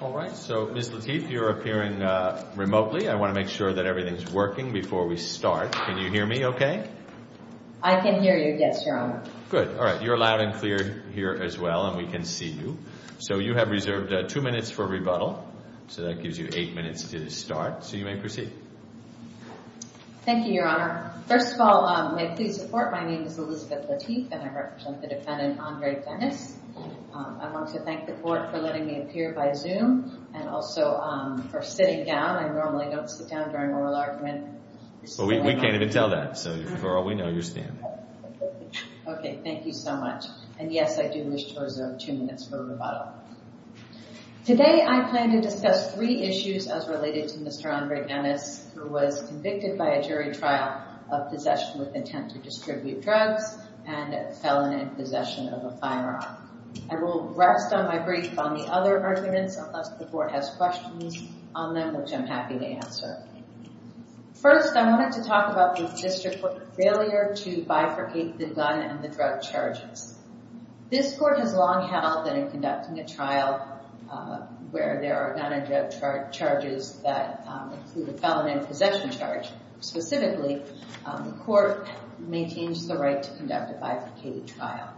All right. So, Ms. Lateef, you're appearing remotely. I want to make sure that everything's working before we start. Can you hear me okay? I can hear you, yes, Your Honor. Good. All right. You're loud and clear here as well, and we can see you. So, you have reserved two minutes for rebuttal. So, that gives you eight minutes to start. So, you may proceed. Thank you, Your Honor. First of all, may I please report my name is Elizabeth Lateef, and I represent the defendant, Andre Dennis. I want to thank the court for letting me appear by Zoom and also for sitting down. I normally don't sit down during oral argument. Well, we can't even tell that. So, for all we know, you're standing. Okay. Thank you. And, yes, I do wish to reserve two minutes for rebuttal. Today, I plan to discuss three issues as related to Mr. Andre Dennis, who was convicted by a jury trial of possession with intent to distribute drugs and felon in possession of a firearm. I will rest on my brief on the other arguments, unless the court has questions on them, which I'm happy to answer. First, I wanted to talk about the district court failure to bifurcate the gun and the drug charges. This court has long held that in conducting a trial where there are gun and drug charges that include a felon in possession charge specifically, the court maintains the right to conduct a bifurcated trial.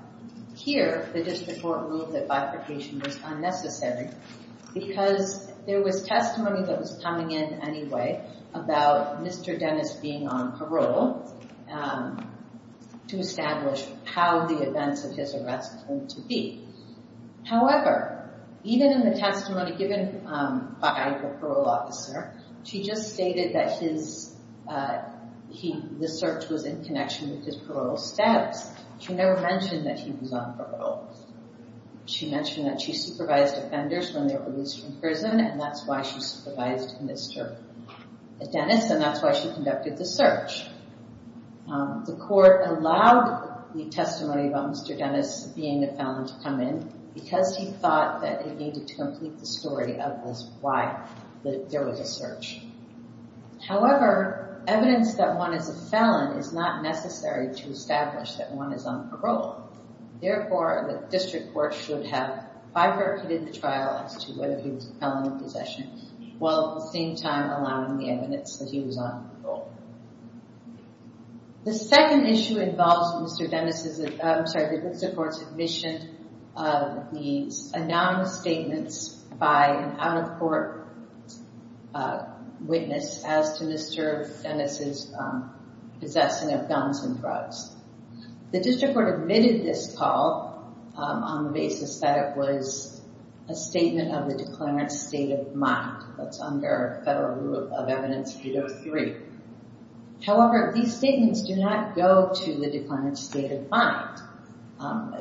Here, the district court ruled that bifurcation was unnecessary because there was testimony that was coming in anyway about Mr. Dennis being on parole to establish how the events of his arrest were to be. However, even in the testimony given by the parole officer, she just stated that the search was in connection with his parole status. She never mentioned that he was on parole. She mentioned that she supervised offenders when they were released from prison, and that's why she supervised Mr. Dennis, and that's why she conducted the search. The court allowed the testimony about Mr. Dennis being a felon to come in because he thought that it needed to complete the story of this, why there was a search. However, evidence that one is a felon is not necessary to establish that one is on parole. Therefore, the district court should have bifurcated the trial as to whether he was a felon in possession while at the same time allowing the evidence that he was on parole. The second issue involves Mr. Dennis's, I'm announcing statements by an out-of-court witness as to Mr. Dennis's possessing of guns and drugs. The district court admitted this call on the basis that it was a statement of the declarant's state of mind. That's under federal rule of evidence 803. However, these statements do not go to the declarant's state of mind.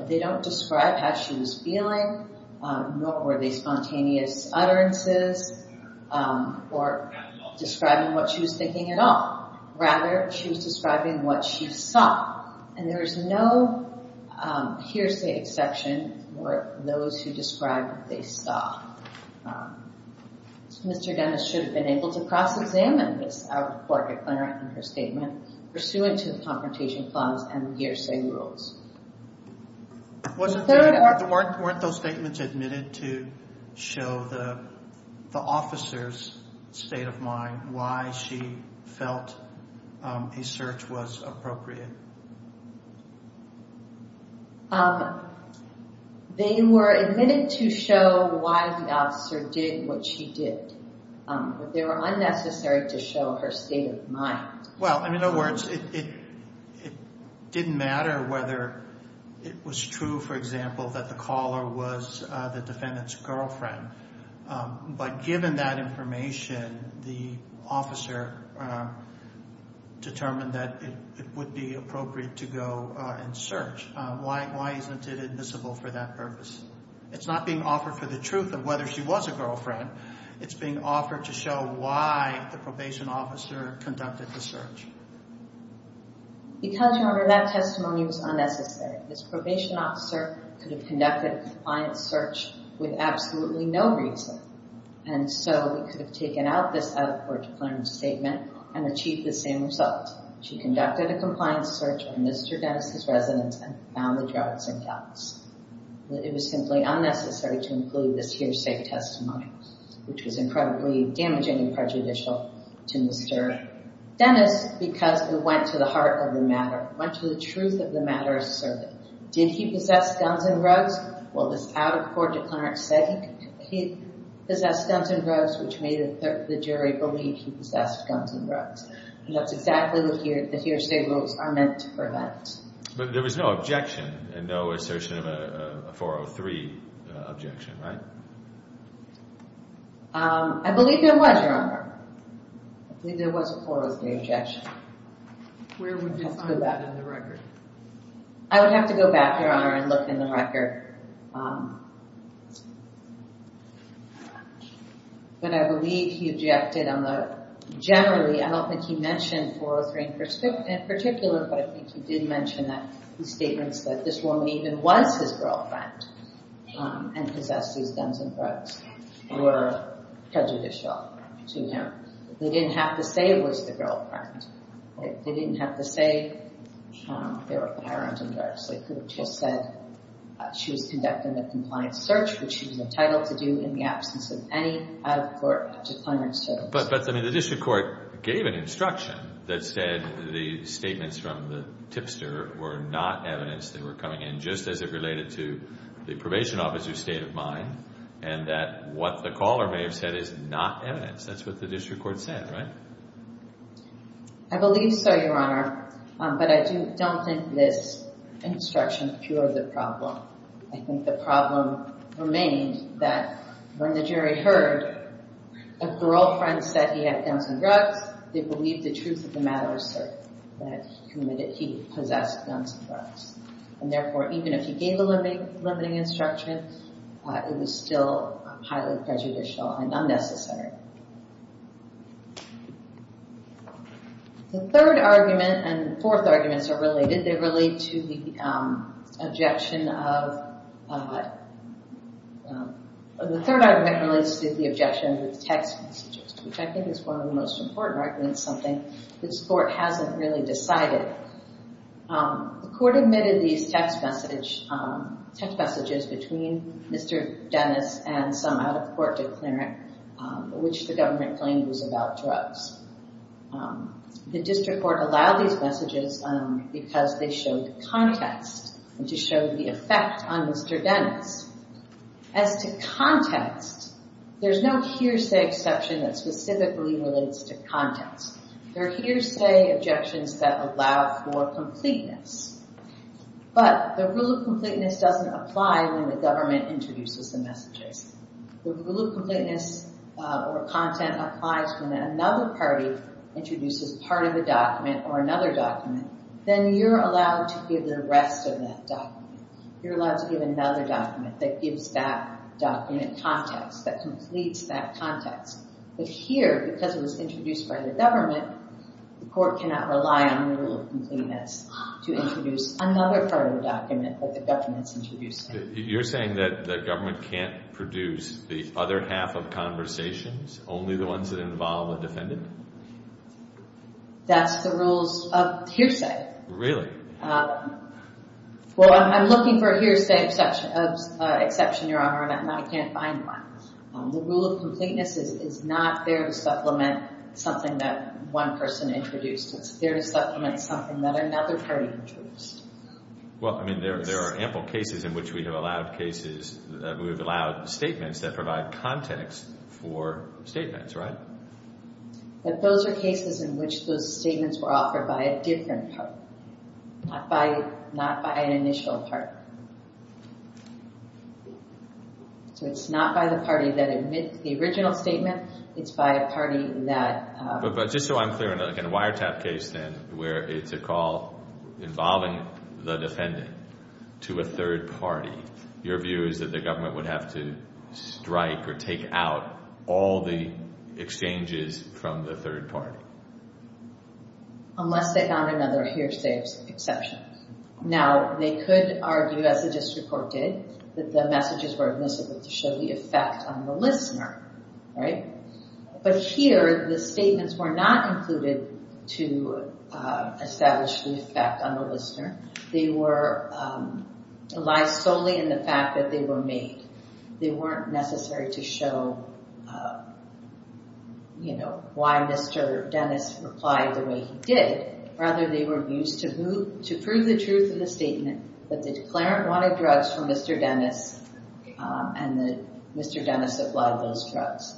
They don't describe how she was feeling, nor were they spontaneous utterances, or describing what she was thinking at all. Rather, she was describing what she saw, and there is no hearsay exception for those who describe what they saw. Mr. Dennis should have been able to cross-examine this out-of-court declarant in her statement pursuant to the confrontation clause and hearsay rules. Weren't those statements admitted to show the officer's state of mind, why she felt a search was appropriate? They were admitted to show why the officer did what she did, but they were not. In other words, it didn't matter whether it was true, for example, that the caller was the defendant's girlfriend, but given that information, the officer determined that it would be appropriate to go and search. Why isn't it admissible for that purpose? It's not being offered for the truth of whether she was a girlfriend. It's being offered to show why the probation officer conducted the search. Because, Your Honor, that testimony was unnecessary. This probation officer could have conducted a compliance search with absolutely no reason, and so we could have taken out this out-of-court declarant statement and achieved the same result. She conducted a compliance search on Mr. Dennis's residence and found the drugs and dogs. It was simply unnecessary to include this hearsay testimony, which was incredibly damaging and prejudicial to Mr. Dennis, because we went to the heart of the matter, went to the truth of the matter asserted. Did he possess guns and drugs? Well, this out-of-court declarant said he possessed guns and drugs, which made the jury believe he possessed guns and drugs, and that's exactly the hearsay rules are meant to prevent. But there was no objection and no assertion of a 403 objection, right? I believe there was, Your Honor. I believe there was a 403 objection. Where would you find that in the record? I would have to go back, Your Honor, and look in the record. But I believe he objected on the, generally, I don't think he mentioned 403 in particular, but I think he did mention that the statements that this woman even was his girlfriend and possessed these guns and drugs were prejudicial to him. They didn't have to say it was the girlfriend. They didn't have to say they were pirates and drugs. They could have just said she was conducting a compliance search, which she was entitled to do in the absence of any out-of-court declarants. But, I mean, the district court gave an instruction that said the statements from the tipster were not evidence that were coming in, just as it related to the probation officer's state of mind, and that what the caller may have said is not evidence. That's what the district court said, right? I believe so, Your Honor, but I don't think this instruction cured the problem. I think the problem remained that when the jury heard a girlfriend said he had guns and drugs, they believed the truth of the matter was certain, that he possessed guns and drugs. And, therefore, even if he gave a limiting instruction, it was still highly prejudicial and unnecessary. The third argument, and the fourth arguments are related, they relate to the objection of, the third argument relates to the objection of text messages, which I think is one of the most important arguments, something this court hasn't really decided. The court admitted these text messages between Mr. Dennis and some out-of-court declarant, which the government claimed was about drugs. The district court allowed these messages because they showed context, and to show the effect on Mr. Dennis. As to context, there's no hearsay exception that specifically relates to context. There are hearsay objections that allow for completeness, but the rule of completeness doesn't apply when the government introduces the messages. The rule of completeness or content applies when another party introduces part of a document or another document, then you're allowed to give the rest of that document. You're allowed to give another document that gives that document context, that completes that context. But here, because it was introduced by the government, the court cannot rely on the rule of completeness to introduce another part of the document that the government's introduced. You're saying that the government can't produce the other half of conversations, only the ones that involve a defendant? That's the rules of hearsay. Really? Well, I'm looking for a hearsay exception, Your Honor, and I can't find one. The rule of completeness is not there to supplement something that one person introduced. It's there to supplement something that another party introduced. Well, I mean, there are ample cases in which we have allowed cases that we've allowed statements that provide context for statements, right? But those are cases in which those statements were offered by a different party, not by an initial party. So it's not by the party that admits the original statement, it's by a party that... But just so I'm clear, in a wiretap case, then, where it's a call involving the defendant to a third party, your view is that the government would have to strike or take out all the exchanges from the third party? Unless they found another hearsay exception. Now, they could argue, as the district court did, that the messages were admissible to show the effect on the listener, right? But here, the statements were not included to establish the effect on the listener. They were aligned solely in the fact that they were made. They weren't necessary to show, you know, why Mr. Dennis replied the way he did. Rather, they were used to prove the truth of the statement that the declarant wanted drugs from Mr. Dennis and that Mr. Dennis supplied those drugs.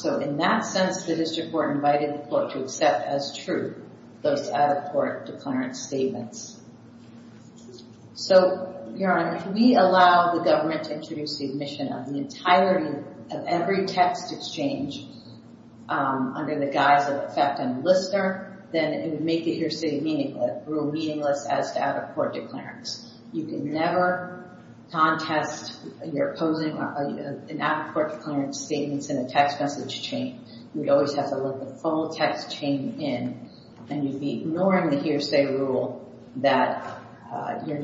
So in that sense, the district court invited the court to accept as true those out-of-court declarant statements. So, Your Honor, if we allow the government to introduce the admission of the entirety of every text exchange under the guise of effect on the listener, then it would make the hearsay rule meaningless as to out-of-court declarants. You can never contest your opposing an out-of-court declarant statements in a text message chain. You'd always have to let the full text chain in, and you'd be ignoring the hearsay rule that you're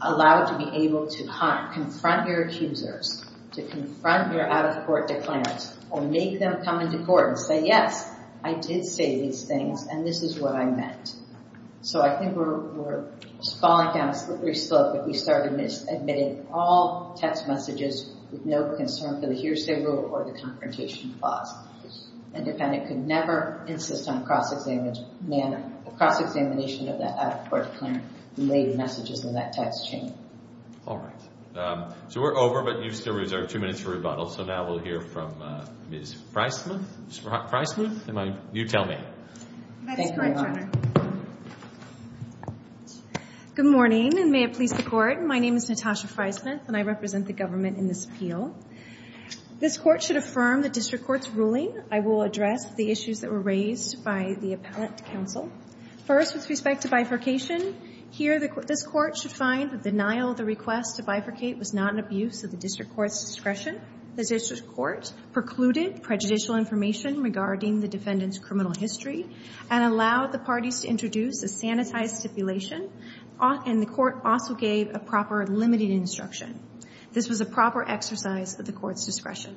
allowed to be able to confront your accusers, to confront your out-of-court declarants, or make them come into court and say, yes, I did say these things, and this is what I meant. So I think we're falling down a slippery slope, but we started admitting all text messages with no concern for the hearsay rule or the confrontation clause. A defendant could never insist on a cross-examination of the out-of-court declarant-related messages in that text chain. All right. So we're over, but you've still reserved two minutes for rebuttal. So now we'll hear from Ms. Freismuth. Ms. Freismuth, you tell me. That is correct, Your Honor. Good morning, and may it please the Court. My name is Natasha Freismuth, and I represent the government in this appeal. This Court should affirm the district court's ruling. I will address the issues that were raised by the appellate counsel. First, with respect to bifurcation, here this Court should find the denial of the request to bifurcate was not an abuse of the district court's discretion. The district court precluded prejudicial information regarding the defendant's criminal history and allowed the parties to introduce a sanitized stipulation, and the court also gave a proper limited instruction. This was a proper exercise of the court's discretion.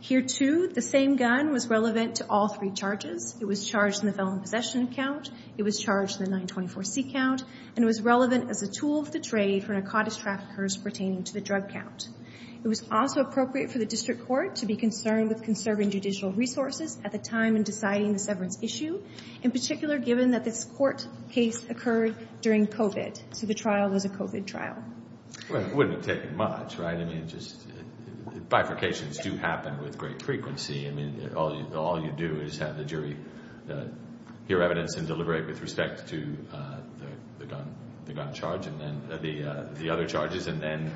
Here, too, the same gun was relevant to all three charges. It was charged in the felon possession count. It was charged in the 924C count, and it was relevant as a tool of the trade for narcotics traffickers pertaining to the drug count. It was also appropriate for the district court to be concerned with conserving judicial resources at the time in deciding the severance issue, in particular given that this court case occurred during COVID, so the trial was a COVID trial. Well, it wouldn't have taken much, right? I mean, bifurcations do happen with great frequency. I mean, all you do is have the jury hear evidence and deliberate with respect to the gun charge and the other charges and then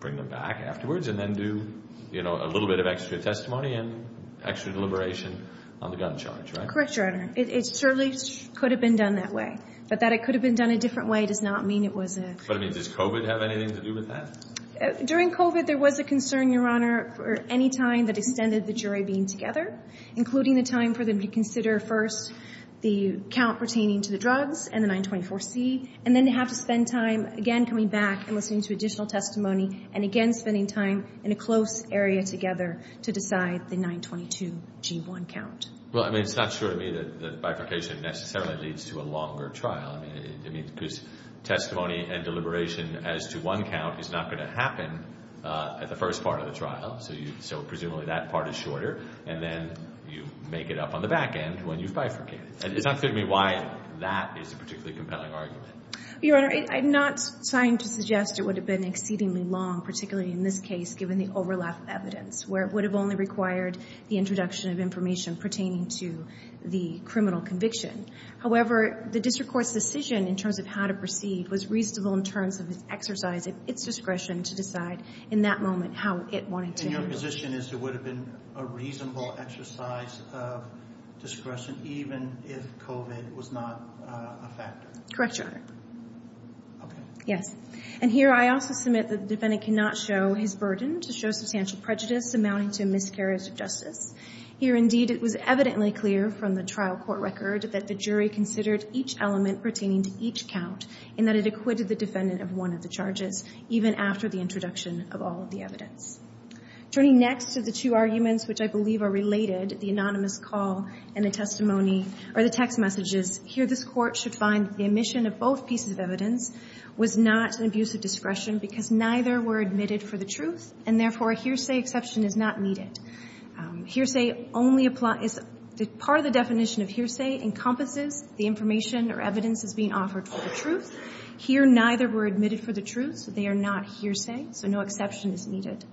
bring them back afterwards and then do, you know, a little bit of extra testimony and extra deliberation on the gun charge, right? Correct, Your Honor. It certainly could have been done that way, but that it could have been done a different way does not mean it was a... But, I mean, does COVID have anything to do with that? During COVID, there was a concern, Your Honor, for any time that extended the jury being together, including the time for them to consider first the count pertaining to the drugs and the 924C, and then they have to spend time again coming back and listening to additional testimony and again spending time in a close area together to decide the 922G1 count. Well, I mean, it's not true to me that bifurcation necessarily leads to a longer trial. I mean, because testimony and deliberation as to one count is not going to happen at the first part of the trial, so presumably that part is shorter, and then you make it up on the back end when you've bifurcated. It's not clear to me why that is a particularly compelling argument. Your Honor, I'm not trying to suggest it would have been exceedingly long, particularly in this case, given the overlap of evidence, where it would have only required the introduction of information pertaining to the criminal conviction. However, the district court's decision in terms of how to proceed was reasonable in terms of its exercise of its discretion to decide in that moment how it wanted to... And your position is it would have been a reasonable exercise of discretion even if COVID was not a factor? Correct, Your Honor. Okay. Yes. And here I also submit that the defendant cannot show his burden to show substantial prejudice amounting to a miscarriage of justice. Here, indeed, it was evidently clear from the trial court record that the jury considered each element pertaining to each count and that it acquitted the defendant of one of the charges even after the introduction of all the evidence. Turning next to the two arguments which I believe are related, the anonymous call and the testimony or the text messages, here this court should find the omission of both pieces of evidence was not an abuse of discretion because neither were admitted for the truth and therefore a hearsay exception is not needed. Hearsay only applies... Part of the definition of hearsay encompasses the information or evidence that's being offered for the truth. Here, neither were admitted for the truth, so they are not hearsay, so no exception is needed.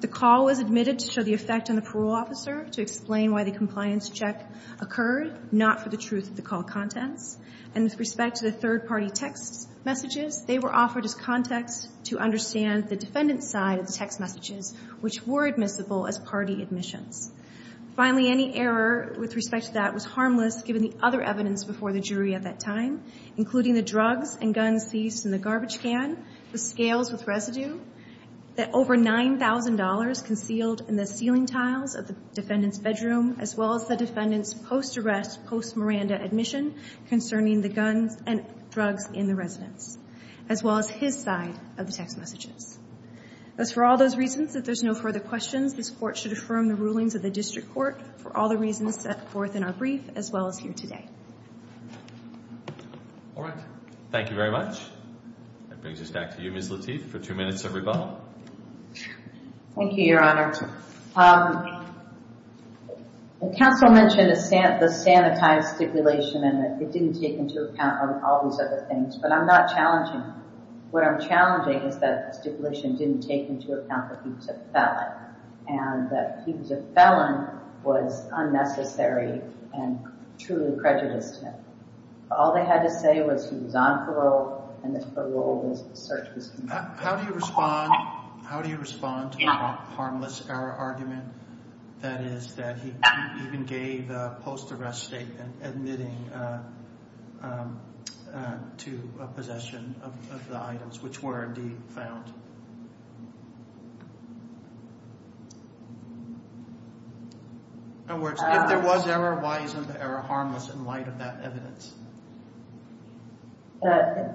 The call was admitted to show the effect on the parole officer to explain why the compliance check occurred not for the truth of the call contents. And with respect to the third-party text messages, they were offered as context to understand the defendant's side of the text messages which were admissible as party admissions. Finally, any error with respect to that was harmless given the other evidence before the jury at that time, including the drugs and guns seized in the garbage can, the scales with residue, that over nine thousand dollars concealed in the ceiling tiles of the defendant's bedroom, as well as the defendant's post-arrest, post-Miranda admission concerning the guns and drugs in the residence, as well as his side of the text messages. As for all those reasons, if there's no further questions, this court should affirm the rulings of the district court for all the reasons set forth in our brief, as well as here today. All right, thank you very much. That brings us back to you, Ms. Lateef, for two minutes of rebuttal. Thank you, Your Honor. The counsel mentioned the sanitized stipulation and that it didn't take into account all these other things, but I'm not challenging him. What I'm challenging is that stipulation didn't take into account that he was a felon, and that he was a felon was unnecessary and truly prejudiced him. All they had to say was he was on parole, and that parole was the surface. How do you respond, how do you respond to the harmless error argument, that is, that he even gave a post-arrest statement admitting to possession of the items which were indeed found? In other words, if there was error, why isn't the error harmless in light of that evidence?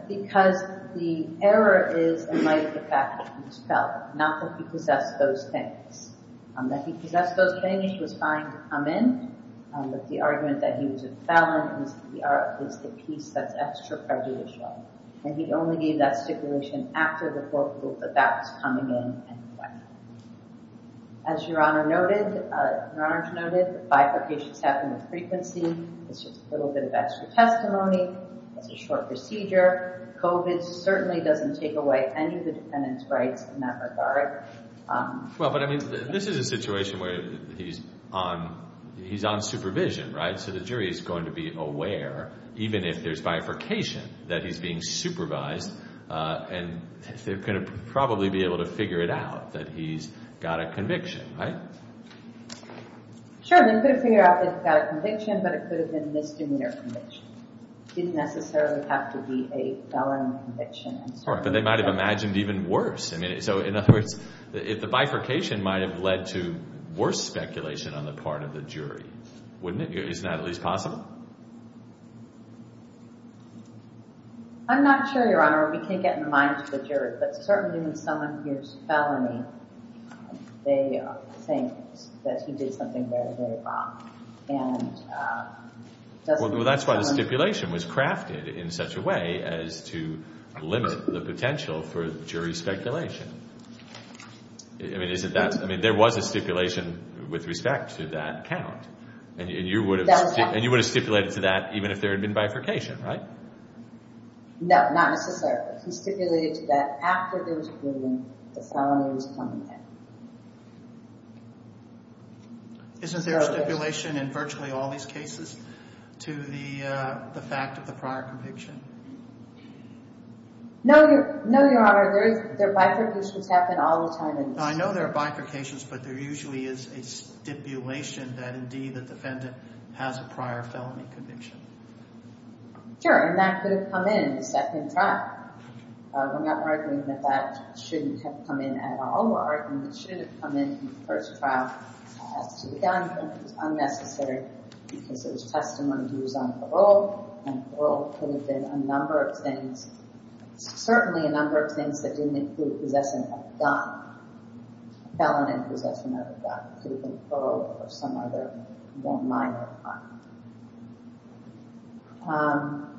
Because the error is in light of the fact that he was a felon, not that he possessed those things. That he possessed those things was fine to come in, but the argument that he was a felon is the piece that's extra prejudicial, and he only gave that stipulation after the court ruled that that was coming in anyway. As Your Honor noted, Your Honor noted, bifurcations happen with frequency. It's just a little bit of extra testimony. It's a short procedure. COVID certainly doesn't take any of the defendant's rights in that regard. Well, but I mean, this is a situation where he's on, he's on supervision, right? So the jury is going to be aware, even if there's bifurcation, that he's being supervised, and they're going to probably be able to figure it out that he's got a conviction, right? Sure, they could have figured out that he's got a conviction, but it could have been a misdemeanor conviction. It didn't necessarily have to be a felon conviction. Sure, but they might have imagined even worse. I mean, so in other words, if the bifurcation might have led to worse speculation on the part of the jury, wouldn't it? Isn't that at least possible? I'm not sure, Your Honor. We can't get in the minds of the jury, but certainly when someone hears felony, they think that he did something very, very wrong, and it doesn't make sense. The stipulation was crafted in such a way as to limit the potential for jury speculation. I mean, isn't that, I mean, there was a stipulation with respect to that count, and you would have stipulated to that even if there had been bifurcation, right? No, not necessarily. He stipulated to that after there was a proven felony was coming in. Isn't there a stipulation in virtually all these cases to the fact of the prior conviction? No, Your Honor. There are bifurcations that happen all the time. I know there are bifurcations, but there usually is a stipulation that indeed the defendant has a prior felony conviction. Sure, and that could have come in in the second trial. We're not arguing that that shouldn't have come in at all. We're arguing that it should have come in in the first trial as to the gun, but it was unnecessary because there was testimony he was on parole, and parole could have been a number of things, certainly a number of things that didn't include possession of a gun, felony possession of a gun. It could have been parole or some other more minor crime.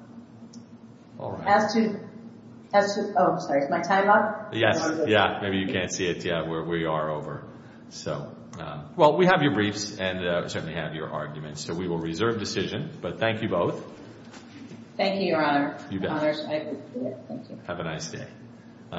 As to, oh, I'm sorry, is my time up? Yes, yeah, maybe you can't see it yet. We are over. Well, we have your briefs and certainly have your arguments, so we will reserve decision, but thank you both. Thank you, Your Honor. You bet. Have a nice day.